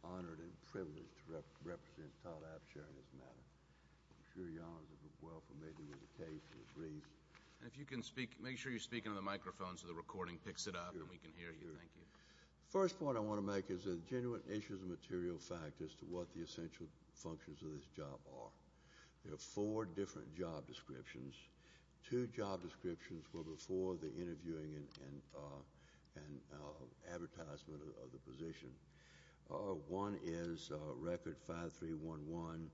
Honored and privileged to represent Todd Abshire in this matter. I'm sure your honors are well familiar with the case and the brief. And if you can speak, make sure you're speaking into the microphone so the recording picks it up and we can hear you. Thank you. The first point I want to make is that genuine issues of material fact as to what the essential functions of this job are. There are four different job descriptions. Two job descriptions were before the interviewing and advertisement of the position. One is record 5311,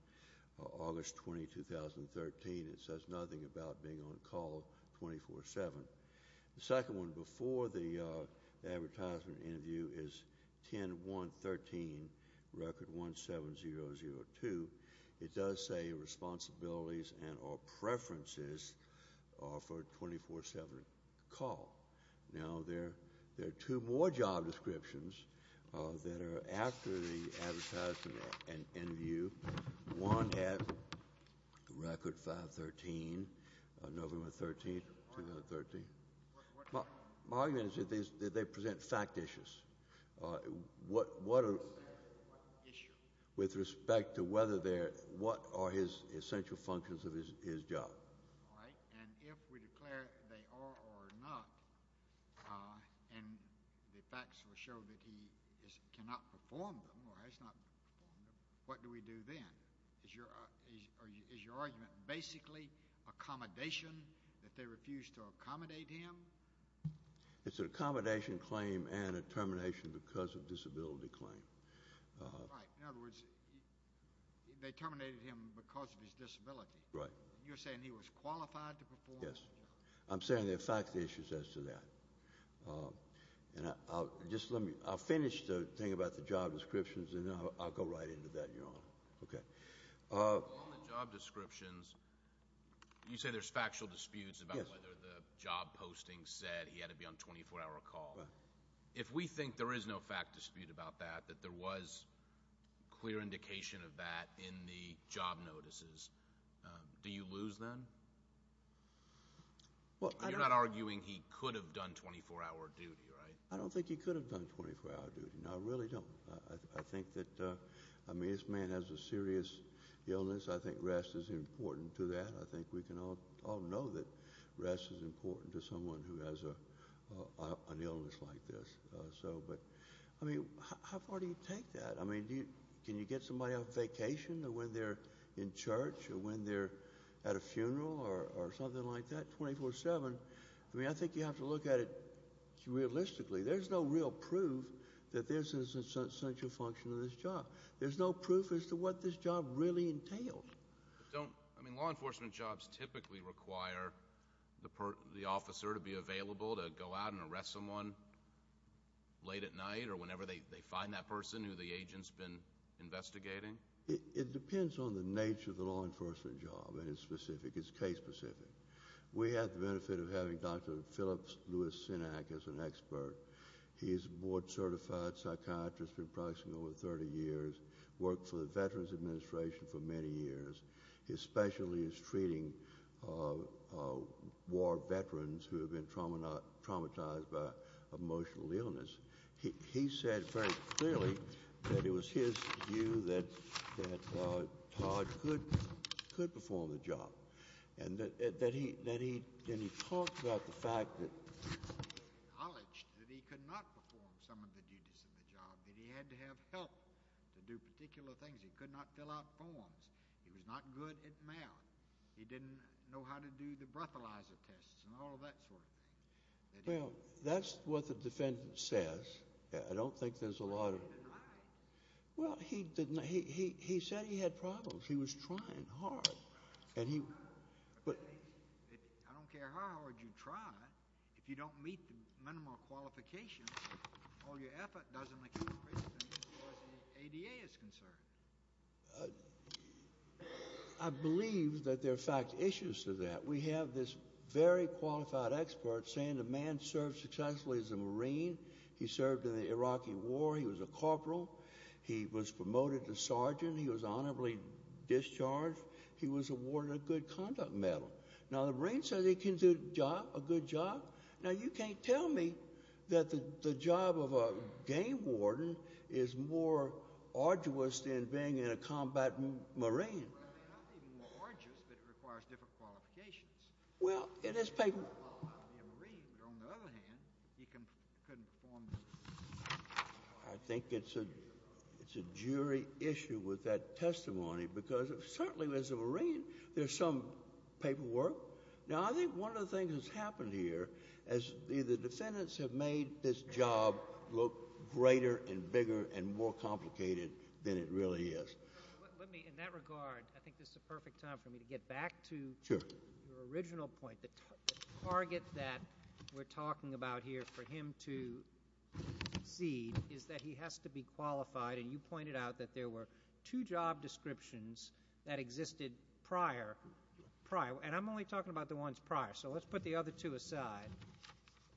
August 20, 2013. It says nothing about being on call 24-7. The second one before the advertisement interview is 10-113, record 17002. It does say responsibilities and or preferences for 24-7 call. Now, there are two more job descriptions that are after the advertisement interview. One at record 513, November 13, 2013. My argument is that they present fact issues. What are the issues with respect to whether they're what are his essential functions of his job? All right. And if we declare they are or are not, and the facts will show that he cannot perform them or has not performed them, what do we do then? Is your argument basically accommodation, that they refused to accommodate him? It's an accommodation claim and a termination because of disability claim. Right. In other words, they terminated him because of his disability. Right. You're saying he was qualified to perform? Yes. I'm saying there are fact issues as to that. And I'll just let me I'll finish the thing about the job descriptions and I'll go right into that, Your Honor. Okay. On the job descriptions, you say there's factual disputes about whether the job posting said he had to be on 24-hour call. Right. If we think there is no fact dispute about that, that there was clear indication of that in the job notices, do you lose then? You're not arguing he could have done 24-hour duty, right? I don't think he could have done 24-hour duty. No, I really don't. I think that, I mean, this man has a serious illness. I think rest is important to that. I think we can all know that rest is important to someone who has an illness like this. So, but, I mean, how far do you take that? I mean, can you get somebody on vacation or when they're in church or when they're at a funeral or something like that, 24-7? I mean, I think you have to look at it realistically. There's no real proof that this is an essential function of this job. There's no proof as to what this job really entails. Don't, I mean, law enforcement jobs typically require the officer to be available to go out and arrest someone late at night or whenever they find that person who the agent's been investigating? It depends on the nature of the law enforcement job. It is specific. It's case specific. We have the benefit of having Dr. Phillips Lewis-Sinak as an expert. He's a board-certified psychiatrist, been practicing over 30 years, worked for the Veterans Administration for many years. His specialty is treating war veterans who have been traumatized by emotional illness. He said very clearly that it was his view that Todd could perform the job, and that he talked about the fact that he acknowledged that he could not perform some of the duties of the job, that he had to have help to do particular things. He could not fill out forms. He was not good at math. He didn't know how to do the breathalyzer tests and all of that sort of thing. Well, that's what the defendant says. I don't think there's a lot of— He denied it. Well, he said he had problems. He was trying hard. I don't care how hard you try. If you don't meet the minimum of qualifications, all your effort doesn't make any difference as far as the ADA is concerned. I believe that there are, in fact, issues to that. We have this very qualified expert saying the man served successfully as a Marine. He served in the Iraqi War. He was a corporal. He was promoted to sergeant. He was honorably discharged. He was awarded a good conduct medal. Now, the Marine says he can do a job, a good job. Now, you can't tell me that the job of a game warden is more arduous than being in a combat Marine. It's not even more arduous, but it requires different qualifications. Well, it is paperwork. He didn't qualify to be a Marine, but on the other hand, he couldn't perform this job. I think it's a jury issue with that testimony because certainly as a Marine, there's some paperwork. Now, I think one of the things that's happened here is the defendants have made this job look greater and bigger and more complicated than it really is. Let me, in that regard, I think this is a perfect time for me to get back to your original point. The target that we're talking about here for him to exceed is that he has to be qualified, and you pointed out that there were two job descriptions that existed prior, prior, and I'm only talking about the ones prior, so let's put the other two aside.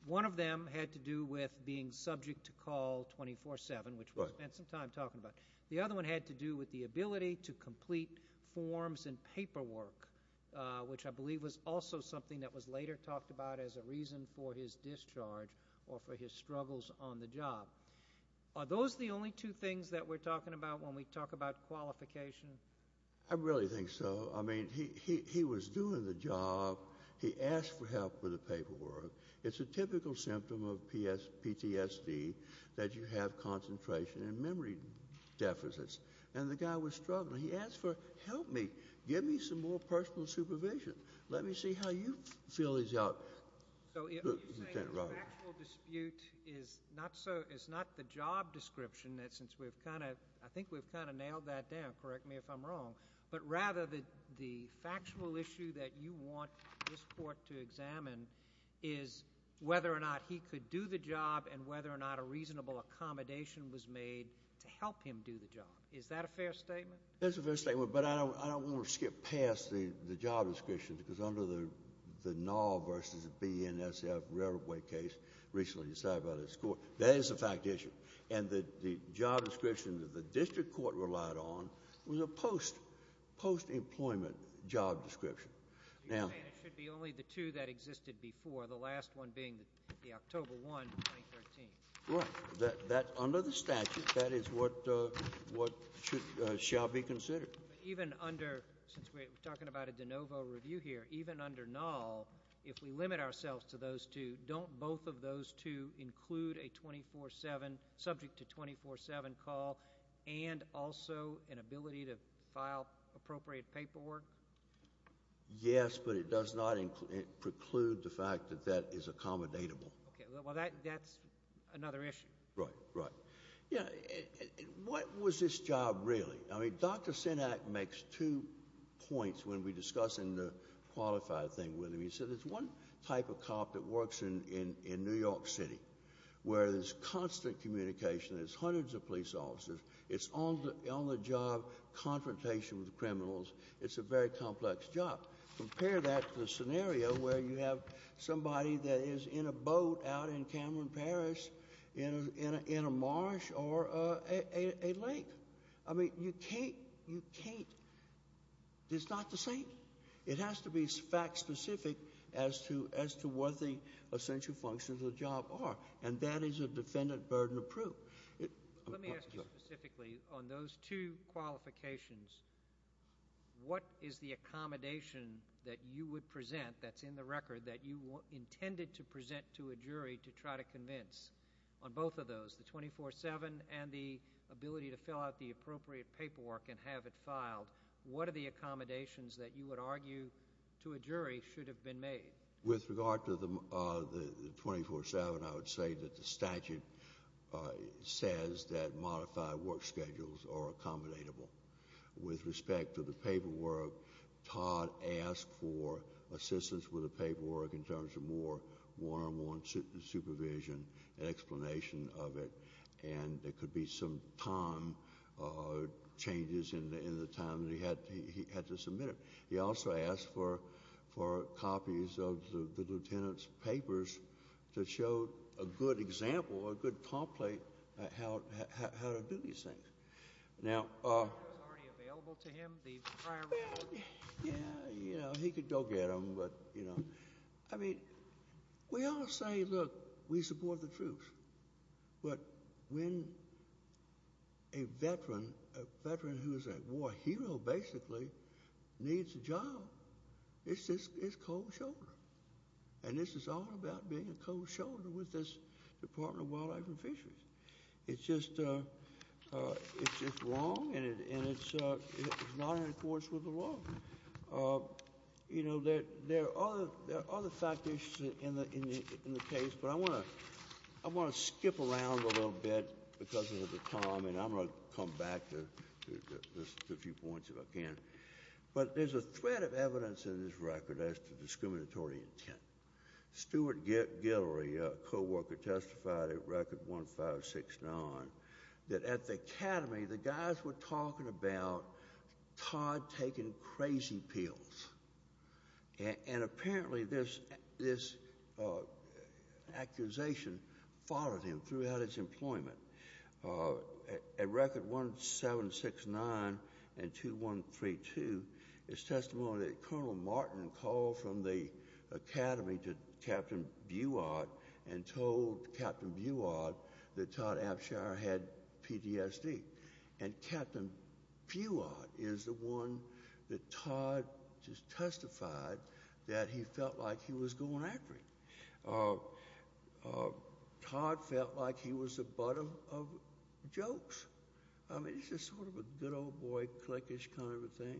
One of them had to do with being subject to call 24-7, which we'll spend some time talking about. The other one had to do with the ability to complete forms and paperwork, which I believe was also something that was later talked about as a reason for his discharge or for his struggles on the job. Are those the only two things that we're talking about when we talk about qualification? I really think so. I mean, he was doing the job. He asked for help with the paperwork. It's a typical symptom of PTSD that you have concentration and memory deficits, and the guy was struggling. He asked for help, give me some more personal supervision. Let me see how you fill this out. So you're saying the factual dispute is not the job description, since we've kind of nailed that down, correct me if I'm wrong, but rather the factual issue that you want this court to examine is whether or not he could do the job and whether or not a reasonable accommodation was made to help him do the job. Is that a fair statement? That's a fair statement, but I don't want to skip past the job description, because under the Nall v. BNSF railway case recently decided by this court, that is a fact issue, and the job description that the district court relied on was a post-employment job description. It should be only the two that existed before, the last one being the October 1, 2013. Right. Under the statute, that is what shall be considered. Even under, since we're talking about a de novo review here, even under Nall, if we limit ourselves to those two, don't both of those two include a 24-7, subject to 24-7 call, and also an ability to file appropriate paperwork? Yes, but it does not preclude the fact that that is accommodatable. Well, that's another issue. Right, right. What was this job really? I mean, Dr. Synak makes two points when we discuss in the qualified thing with him. He said there's one type of cop that works in New York City where there's constant communication. There's hundreds of police officers. It's on the job confrontation with criminals. It's a very complex job. Compare that to the scenario where you have somebody that is in a boat out in Cameron, Paris, in a marsh or a lake. I mean, you can't, it's not the same. It has to be fact specific as to what the essential functions of the job are, and that is a defendant burden of proof. Let me ask you specifically on those two qualifications, what is the accommodation that you would present that's in the record that you intended to present to a jury to try to convince? On both of those, the 24-7 and the ability to fill out the appropriate paperwork and have it filed, what are the accommodations that you would argue to a jury should have been made? With regard to the 24-7, I would say that the statute says that modified work schedules are accommodatable. With respect to the paperwork, Todd asked for assistance with the paperwork in terms of more one-on-one supervision and explanation of it, and there could be some time changes in the time that he had to submit it. He also asked for copies of the lieutenant's papers to show a good example, a good template, how to do these things. Are those already available to him, the prior record? Yeah, you know, he could go get them, but, you know, I mean, we all say, look, we support the troops, but when a veteran who is a war hero basically needs a job, it's cold shoulder, and this is all about being a cold shoulder with this Department of Wildlife and Fisheries. It's just wrong, and it's not in accordance with the law. You know, there are other factors in the case, but I want to skip around a little bit because of the time, and I'm going to come back to a few points if I can. But there's a thread of evidence in this record as to discriminatory intent. Stuart Guillory, a co-worker, testified at Record 1569 that at the Academy, the guys were talking about Todd taking crazy pills, and apparently this accusation followed him throughout his employment. At Record 1769 and 2132, it's testimony that Colonel Martin called from the Academy to Captain Buod and told Captain Buod that Todd Abshire had PTSD, and Captain Buod is the one that Todd just testified that he felt like he was going after him. Todd felt like he was the butt of jokes. I mean, he's just sort of a good old boy, cliquish kind of a thing.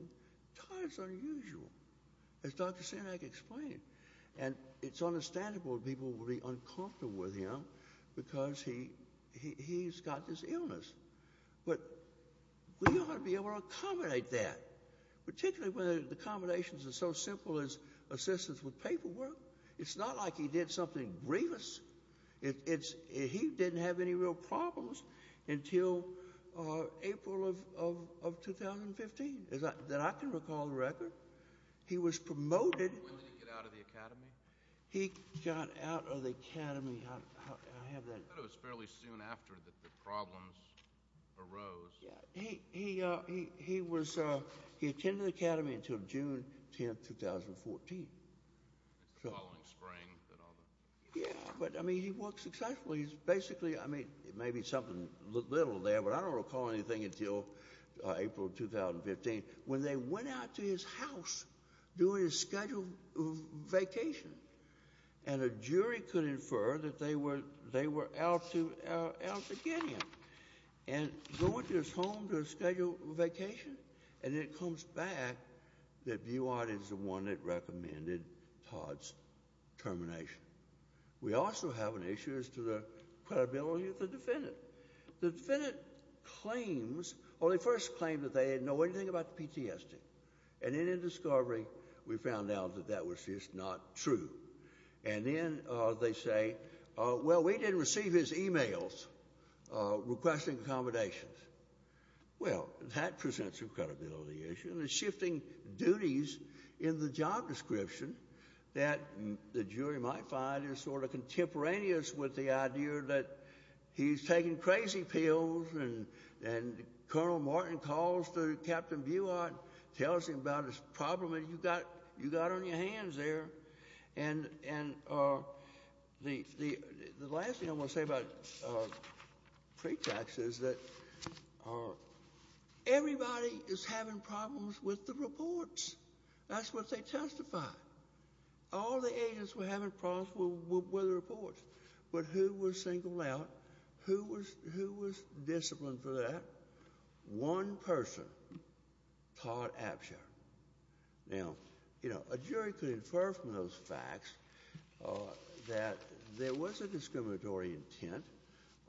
Todd is unusual, as Dr. Sinek explained, and it's understandable people would be uncomfortable with him because he's got this illness. But we ought to be able to accommodate that, particularly when the accommodations are so simple as assistance with paperwork. It's not like he did something grievous. He didn't have any real problems until April of 2015, that I can recall the record. He was promoted. When did he get out of the Academy? He got out of the Academy. I have that. I thought it was fairly soon after that the problems arose. He attended the Academy until June 10, 2014. The following spring. Yeah, but, I mean, he worked successfully. He's basically, I mean, maybe something little there, but I don't recall anything until April of 2015, when they went out to his house during a scheduled vacation, and a jury could infer that they were out to get him. And they went to his home to schedule a vacation, and it comes back that Buart is the one that recommended Todd's termination. We also have an issue as to the credibility of the defendant. The defendant claims, well, they first claim that they didn't know anything about the PTSD, and then in discovery we found out that that was just not true. And then they say, well, we didn't receive his e-mails requesting accommodations. Well, that presents a credibility issue, and it's shifting duties in the job description that the jury might find is sort of contemporaneous with the idea that he's taking crazy pills, and Colonel Martin calls to Captain Buart, tells him about his problem, and you got on your hands there. And the last thing I want to say about pretax is that everybody is having problems with the reports. That's what they testify. All the agents were having problems with the reports. But who was singled out? Who was disciplined for that? One person, Todd Absher. Now, you know, a jury could infer from those facts that there was a discriminatory intent,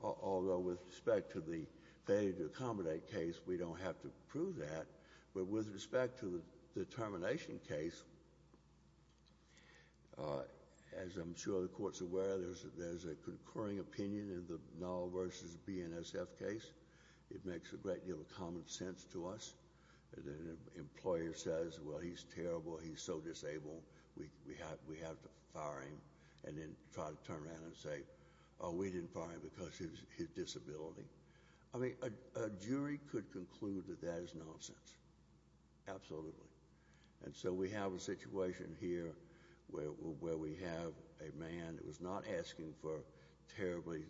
although with respect to the failure to accommodate case, we don't have to prove that. But with respect to the termination case, as I'm sure the Court's aware, there's a concurring opinion in the Null v. BNSF case. It makes a great deal of common sense to us. An employer says, well, he's terrible, he's so disabled, we have to fire him, and then try to turn around and say, oh, we didn't fire him because of his disability. I mean, a jury could conclude that that is nonsense. Absolutely. And so we have a situation here where we have a man that was not asking for terribly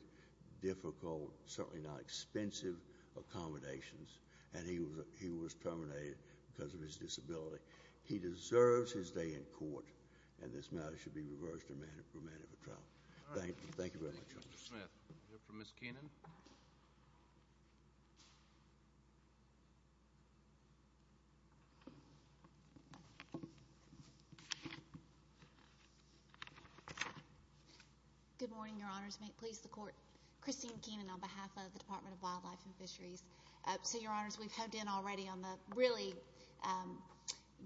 difficult, certainly not expensive accommodations, and he was terminated because of his disability. He deserves his day in court, and this matter should be reversed and remanded for trial. Thank you very much. Thank you, Mr. Smith. We have for Ms. Keenan. May it please the Court. Christine Keenan on behalf of the Department of Wildlife and Fisheries. So, Your Honors, we've hoed in already on really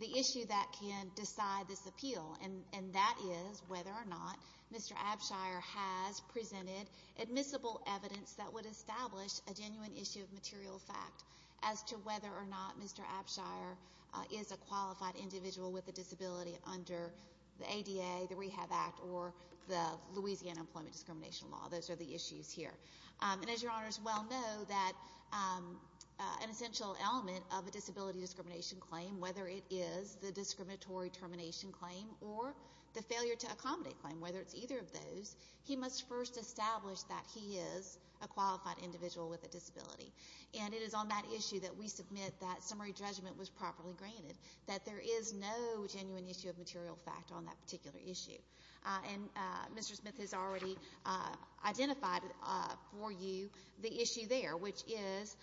the issue that can decide this appeal, and that is whether or not Mr. Abshire has presented admissible evidence that would establish a genuine issue of material fact as to whether or not Mr. Abshire is a qualified individual with a disability under the ADA, the Rehab Act, or the Louisiana Employment Discrimination Law. Those are the issues here. And as Your Honors well know, that an essential element of a disability discrimination claim, whether it is the discriminatory termination claim or the failure to accommodate claim, whether it's either of those, he must first establish that he is a qualified individual with a disability. And it is on that issue that we submit that summary judgment was properly granted, that there is no genuine issue of material fact on that particular issue. And Mr. Smith has already identified for you the issue there, which is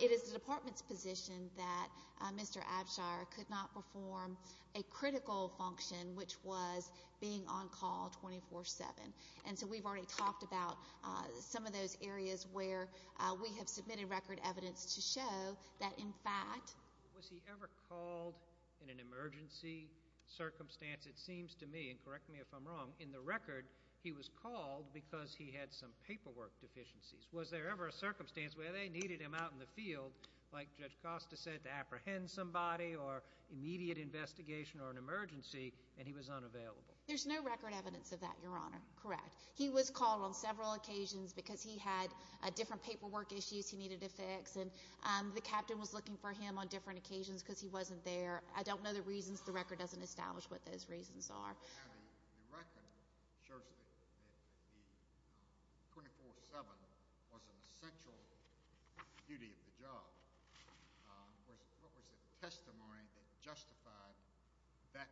it is the Department's position that Mr. Abshire could not perform a critical function, which was being on call 24-7. And so we've already talked about some of those areas where we have submitted record evidence to show that, in fact... Was he ever called in an emergency circumstance? It seems to me, and correct me if I'm wrong, in the record, he was called because he had some paperwork deficiencies. Was there ever a circumstance where they needed him out in the field, like Judge Costa said, to apprehend somebody or immediate investigation or an emergency, and he was unavailable? There's no record evidence of that, Your Honor. Correct. He was called on several occasions because he had different paperwork issues he needed to fix, and the captain was looking for him on different occasions because he wasn't there. I don't know the reasons. The record doesn't establish what those reasons are. Now, the record shows that the 24-7 was an essential duty of the job. What was the testimony that justified that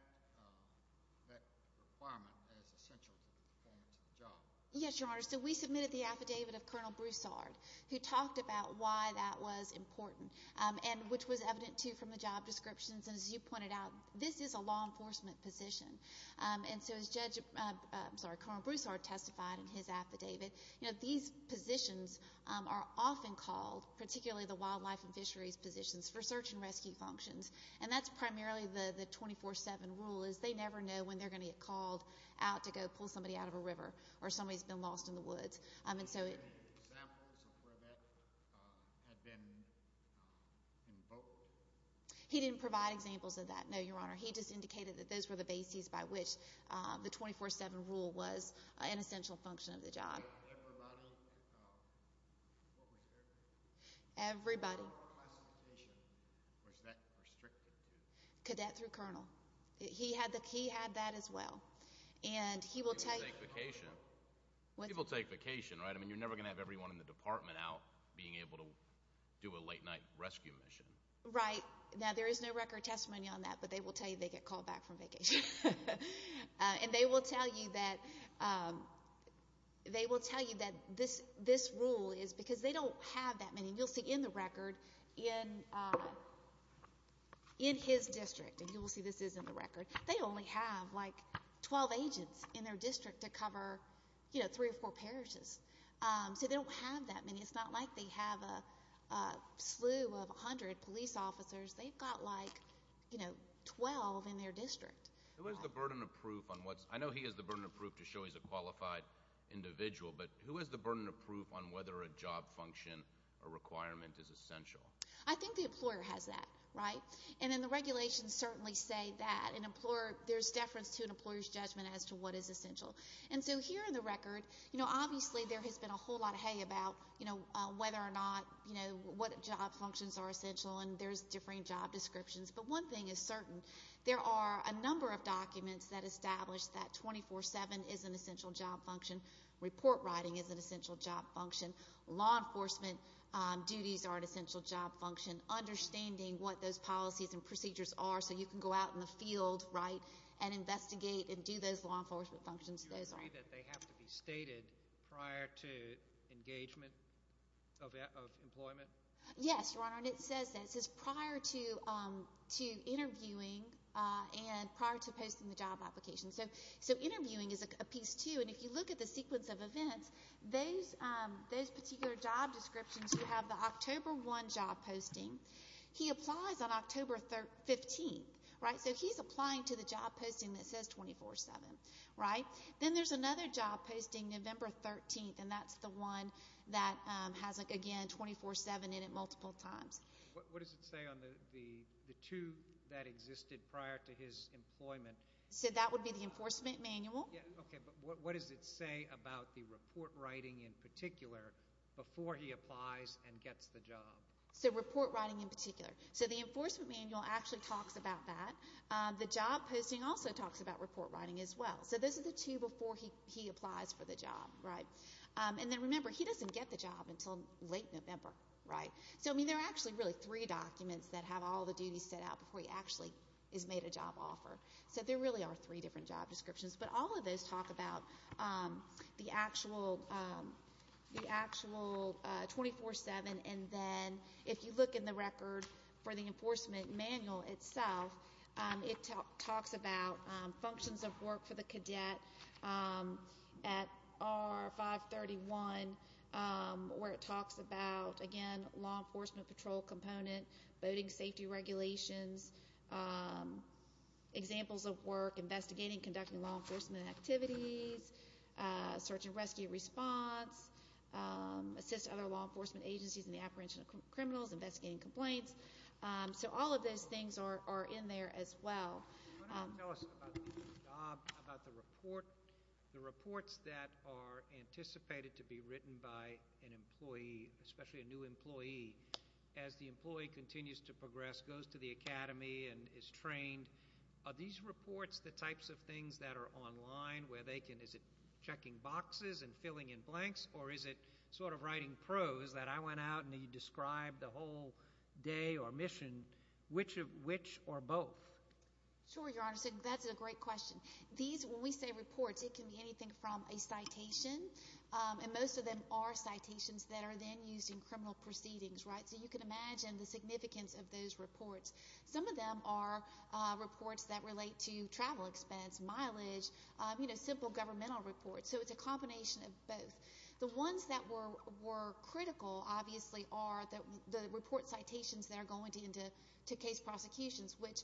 requirement as essential to the performance of the job? Yes, Your Honor. So we submitted the affidavit of Colonel Broussard, who talked about why that was important, which was evident, too, from the job descriptions. And as you pointed out, this is a law enforcement position. And so as Judge Broussard testified in his affidavit, these positions are often called, particularly the wildlife and fisheries positions, for search and rescue functions, and that's primarily the 24-7 rule, is they never know when they're going to get called out to go pull somebody out of a river or somebody who's been lost in the woods. Did he give any examples of where that had been invoked? He didn't provide examples of that, no, Your Honor. He just indicated that those were the bases by which the 24-7 rule was an essential function of the job. Everybody, what was their name? Everybody. What classification was that restricted to? Cadet through Colonel. He had that as well. And he will take vacation, right? I mean, you're never going to have everyone in the department out being able to do a late-night rescue mission. Right. Now, there is no record testimony on that, but they will tell you they get called back from vacation. And they will tell you that this rule is because they don't have that many. You'll see in the record in his district, and you will see this is in the record, they only have like 12 agents in their district to cover, you know, three or four parishes. So they don't have that many. It's not like they have a slew of 100 police officers. They've got like, you know, 12 in their district. Who has the burden of proof on what's – I know he has the burden of proof to show he's a qualified individual, but who has the burden of proof on whether a job function or requirement is essential? I think the employer has that, right? And then the regulations certainly say that. There's deference to an employer's judgment as to what is essential. And so here in the record, you know, obviously there has been a whole lot of hay about, you know, whether or not, you know, what job functions are essential, and there's differing job descriptions. But one thing is certain. There are a number of documents that establish that 24-7 is an essential job function, report writing is an essential job function, law enforcement duties are an essential job function, understanding what those policies and procedures are so you can go out in the field, right, and investigate and do those law enforcement functions. Do you agree that they have to be stated prior to engagement of employment? Yes, Your Honor, and it says that. It says prior to interviewing and prior to posting the job application. So interviewing is a piece, too, and if you look at the sequence of events, those particular job descriptions who have the October 1 job posting, he applies on October 15th, right? So he's applying to the job posting that says 24-7, right? Then there's another job posting, November 13th, and that's the one that has, again, 24-7 in it multiple times. What does it say on the two that existed prior to his employment? So that would be the enforcement manual? Yes, okay, but what does it say about the report writing in particular before he applies and gets the job? So report writing in particular. So the enforcement manual actually talks about that. The job posting also talks about report writing as well. So those are the two before he applies for the job, right? And then remember, he doesn't get the job until late November, right? So, I mean, there are actually really three documents that have all the duties set out before he actually is made a job offer. So there really are three different job descriptions. But all of those talk about the actual 24-7, and then if you look in the record for the enforcement manual itself, it talks about functions of work for the cadet at R-531, where it talks about, again, law enforcement patrol component, voting safety regulations, examples of work, investigating conducting law enforcement activities, search and rescue response, assist other law enforcement agencies in the apprehension of criminals, investigating complaints. So all of those things are in there as well. Why don't you tell us about the job, about the report. The reports that are anticipated to be written by an employee, especially a new employee, as the employee continues to progress, goes to the academy and is trained, are these reports the types of things that are online where they can, is it checking boxes and filling in blanks, or is it sort of writing prose that I went out and he described the whole day or mission, which are both? Sure, Your Honor. That's a great question. These, when we say reports, it can be anything from a citation, and most of them are citations that are then used in criminal proceedings, right? So you can imagine the significance of those reports. Some of them are reports that relate to travel expense, mileage, you know, simple governmental reports. So it's a combination of both. The ones that were critical, obviously, are the report citations that are going into case prosecutions, which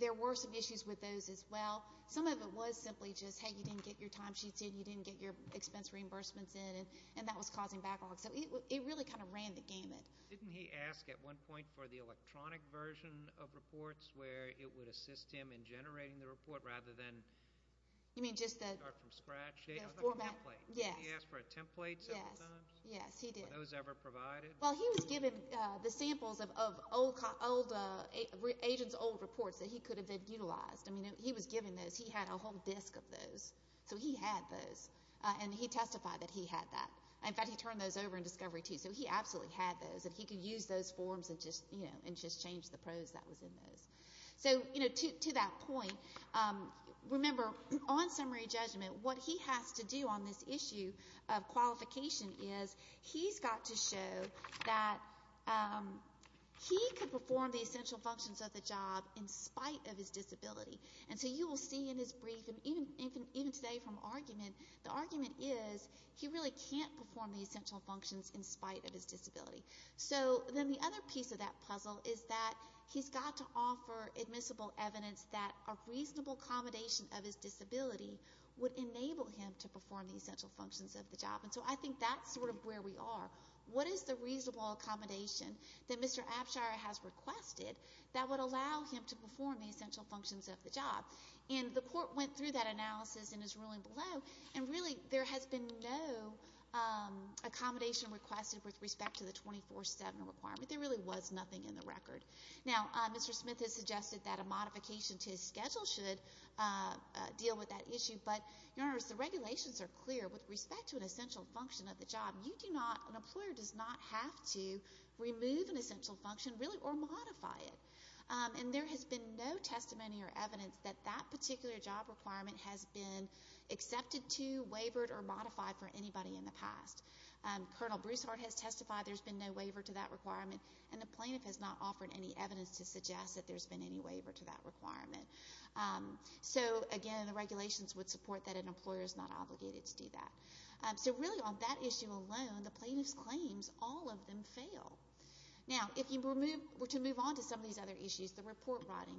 there were some issues with those as well. Some of it was simply just, hey, you didn't get your time sheets in, you didn't get your expense reimbursements in, and that was causing backlog. So it really kind of ran the gamut. Didn't he ask at one point for the electronic version of reports where it would assist him in generating the report rather than start from scratch? Yes. Didn't he ask for a template several times? Yes, he did. Were those ever provided? Well, he was given the samples of agents' old reports that he could have utilized. I mean, he was given those. He had a whole disk of those. So he had those, and he testified that he had that. In fact, he turned those over in discovery, too. So he absolutely had those, and he could use those forms and just change the prose that was in those. So, you know, to that point, remember, on summary judgment, what he has to do on this issue of qualification is he's got to show that he could perform the essential functions of the job in spite of his disability. And so you will see in his brief, and even today from argument, the argument is he really can't perform the essential functions in spite of his disability. So then the other piece of that puzzle is that he's got to offer admissible evidence that a reasonable accommodation of his disability would enable him to perform the essential functions of the job. And so I think that's sort of where we are. What is the reasonable accommodation that Mr. Abshire has requested that would allow him to perform the essential functions of the job? And the court went through that analysis in his ruling below, and really there has been no accommodation requested with respect to the 24-7 requirement. There really was nothing in the record. Now, Mr. Smith has suggested that a modification to his schedule should deal with that issue, but, Your Honors, the regulations are clear with respect to an essential function of the job. You do not, an employer does not have to remove an essential function, really, or modify it. And there has been no testimony or evidence that that particular job requirement has been accepted to, wavered, or modified for anybody in the past. Colonel Broussard has testified there's been no waiver to that requirement, and the plaintiff has not offered any evidence to suggest that there's been any waiver to that requirement. So, again, the regulations would support that an employer is not obligated to do that. So really on that issue alone, the plaintiff's claims, all of them fail. Now, to move on to some of these other issues, the report writing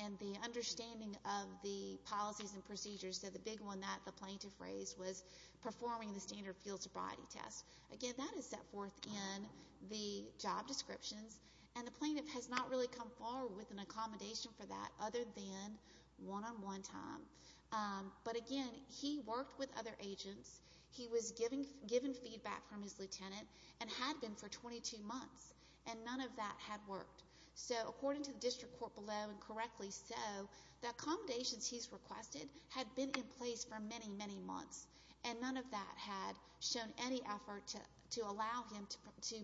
and the understanding of the policies and procedures, so the big one that the plaintiff raised was performing the standard field sobriety test. Again, that is set forth in the job descriptions, and the plaintiff has not really come forward with an accommodation for that other than one-on-one time. But, again, he worked with other agents. He was given feedback from his lieutenant and had been for 22 months, and none of that had worked. So according to the district court below, and correctly so, the accommodations he's requested had been in place for many, many months, and none of that had shown any effort to allow him to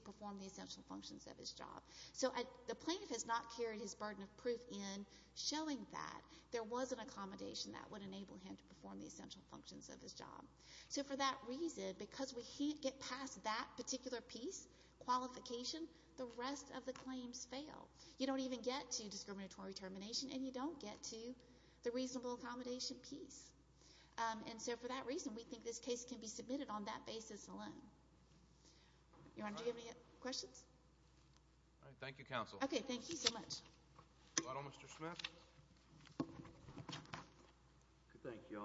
perform the essential functions of his job. So the plaintiff has not carried his burden of proof in showing that there was an accommodation that would enable him to perform the essential functions of his job. So for that reason, because we get past that particular piece, qualification, the rest of the claims fail. You don't even get to discriminatory termination, and you don't get to the reasonable accommodation piece. And so for that reason, we think this case can be submitted on that basis alone. Your Honor, do you have any questions? All right. Thank you, Counsel. Okay. Thank you so much. Mr. Smith? Thank you, Your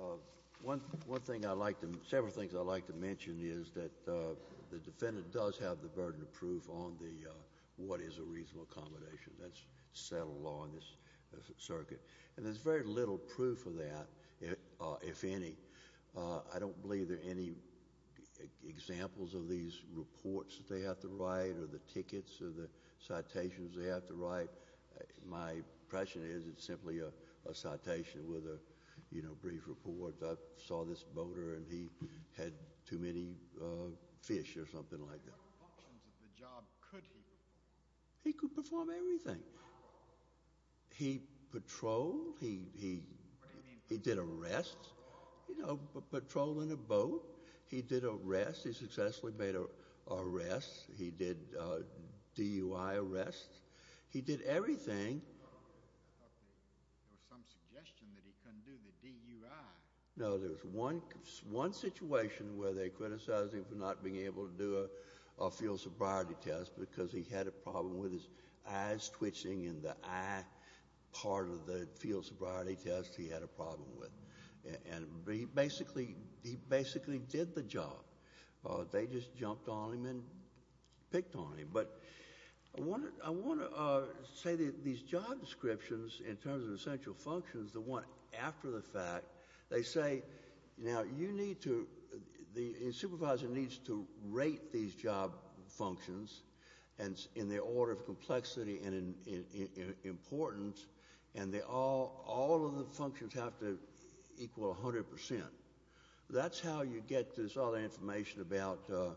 Honor. One thing I'd like to—several things I'd like to mention is that the defendant does have the burden of proof on the— what is a reasonable accommodation that's settled law in this circuit. And there's very little proof of that, if any. I don't believe there are any examples of these reports that they have to write or the tickets or the citations they have to write. My impression is it's simply a citation with a brief report. I saw this boater, and he had too many fish or something like that. What functions of the job could he perform? He could perform everything. He patrolled. What do you mean? He did arrests. You know, patrolling a boat. He did arrests. He successfully made arrests. He did DUI arrests. He did everything. I thought there was some suggestion that he couldn't do the DUI. No. There was one situation where they criticized him for not being able to do a field sobriety test because he had a problem with his eyes twitching and the eye part of the field sobriety test he had a problem with. And he basically did the job. They just jumped on him and picked on him. But I want to say that these job descriptions in terms of essential functions, the one after the fact, they say, Now, you need to, the supervisor needs to rate these job functions in the order of complexity and importance, and all of the functions have to equal 100%. That's how you get this other information about the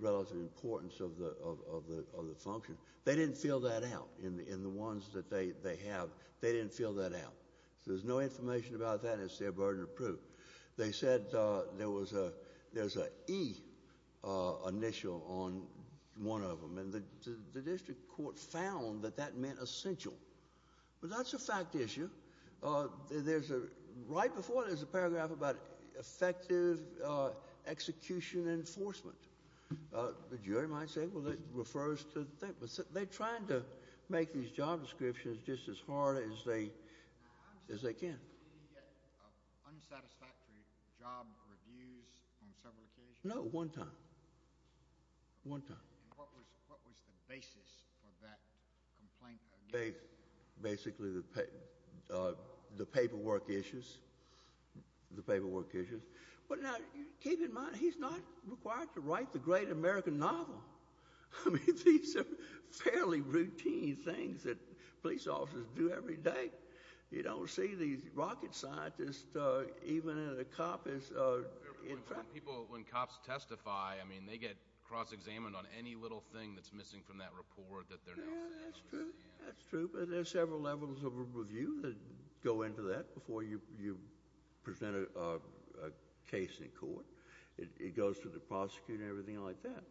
relative importance of the function. They didn't fill that out in the ones that they have. They didn't fill that out. There's no information about that, and it's their burden to prove. They said there was an E initial on one of them, and the district court found that that meant essential. But that's a fact issue. There's a, right before there's a paragraph about effective execution enforcement. The jury might say, Well, that refers to the thing. But they're trying to make these job descriptions just as hard as they can. Did he get unsatisfactory job reviews on several occasions? No, one time, one time. And what was the basis for that complaint? Basically the paperwork issues, the paperwork issues. But now, keep in mind, he's not required to write the great American novel. I mean, these are fairly routine things that police officers do every day. You don't see these rocket scientists even in the copies. When cops testify, I mean, they get cross-examined on any little thing that's missing from that report. That's true, that's true. But there are several levels of review that go into that before you present a case in court. It goes to the prosecutor and everything like that.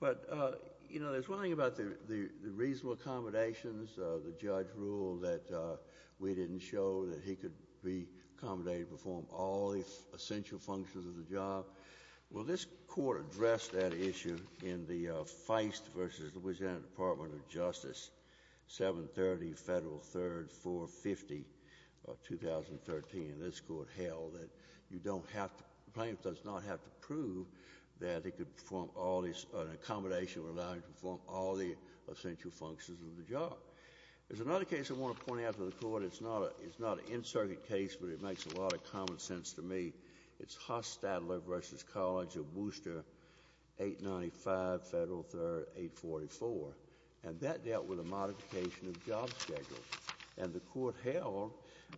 But, you know, there's one thing about the reasonable accommodations. The judge ruled that we didn't show that he could be accommodated to perform all the essential functions of the job. Well, this court addressed that issue in the Feist v. Louisiana Department of Justice, 730 Federal 3rd 450 of 2013. And this court held that you don't have to, the plaintiff does not have to prove that he could perform all these, an accommodation would allow him to perform all the essential functions of the job. There's another case I want to point out to the court. It's not an in-circuit case, but it makes a lot of common sense to me. It's Haas-Stadler v. College of Booster, 895 Federal 3rd 844. And that dealt with a modification of job schedules. And the court held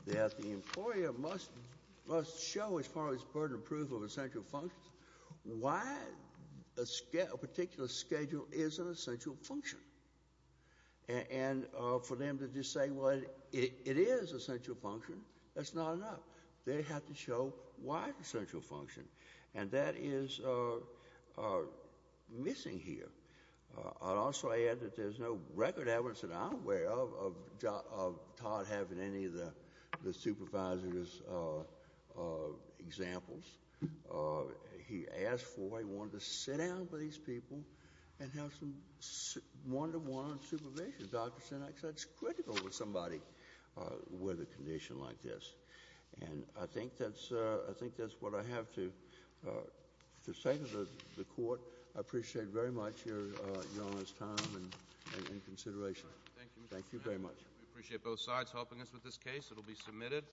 that the employer must show, as far as burden of proof of essential functions, why a particular schedule is an essential function. And for them to just say, well, it is an essential function, that's not enough. They have to show why it's an essential function. And that is missing here. I'll also add that there's no record evidence that I'm aware of Todd having any of the supervisor's examples. He asked for, he wanted to sit down with these people and have some one-to-one supervision. Doctors are not such critical with somebody with a condition like this. And I think that's what I have to say to the court. I appreciate very much your honest time and consideration. Thank you very much. We appreciate both sides helping us with this case. It will be submitted.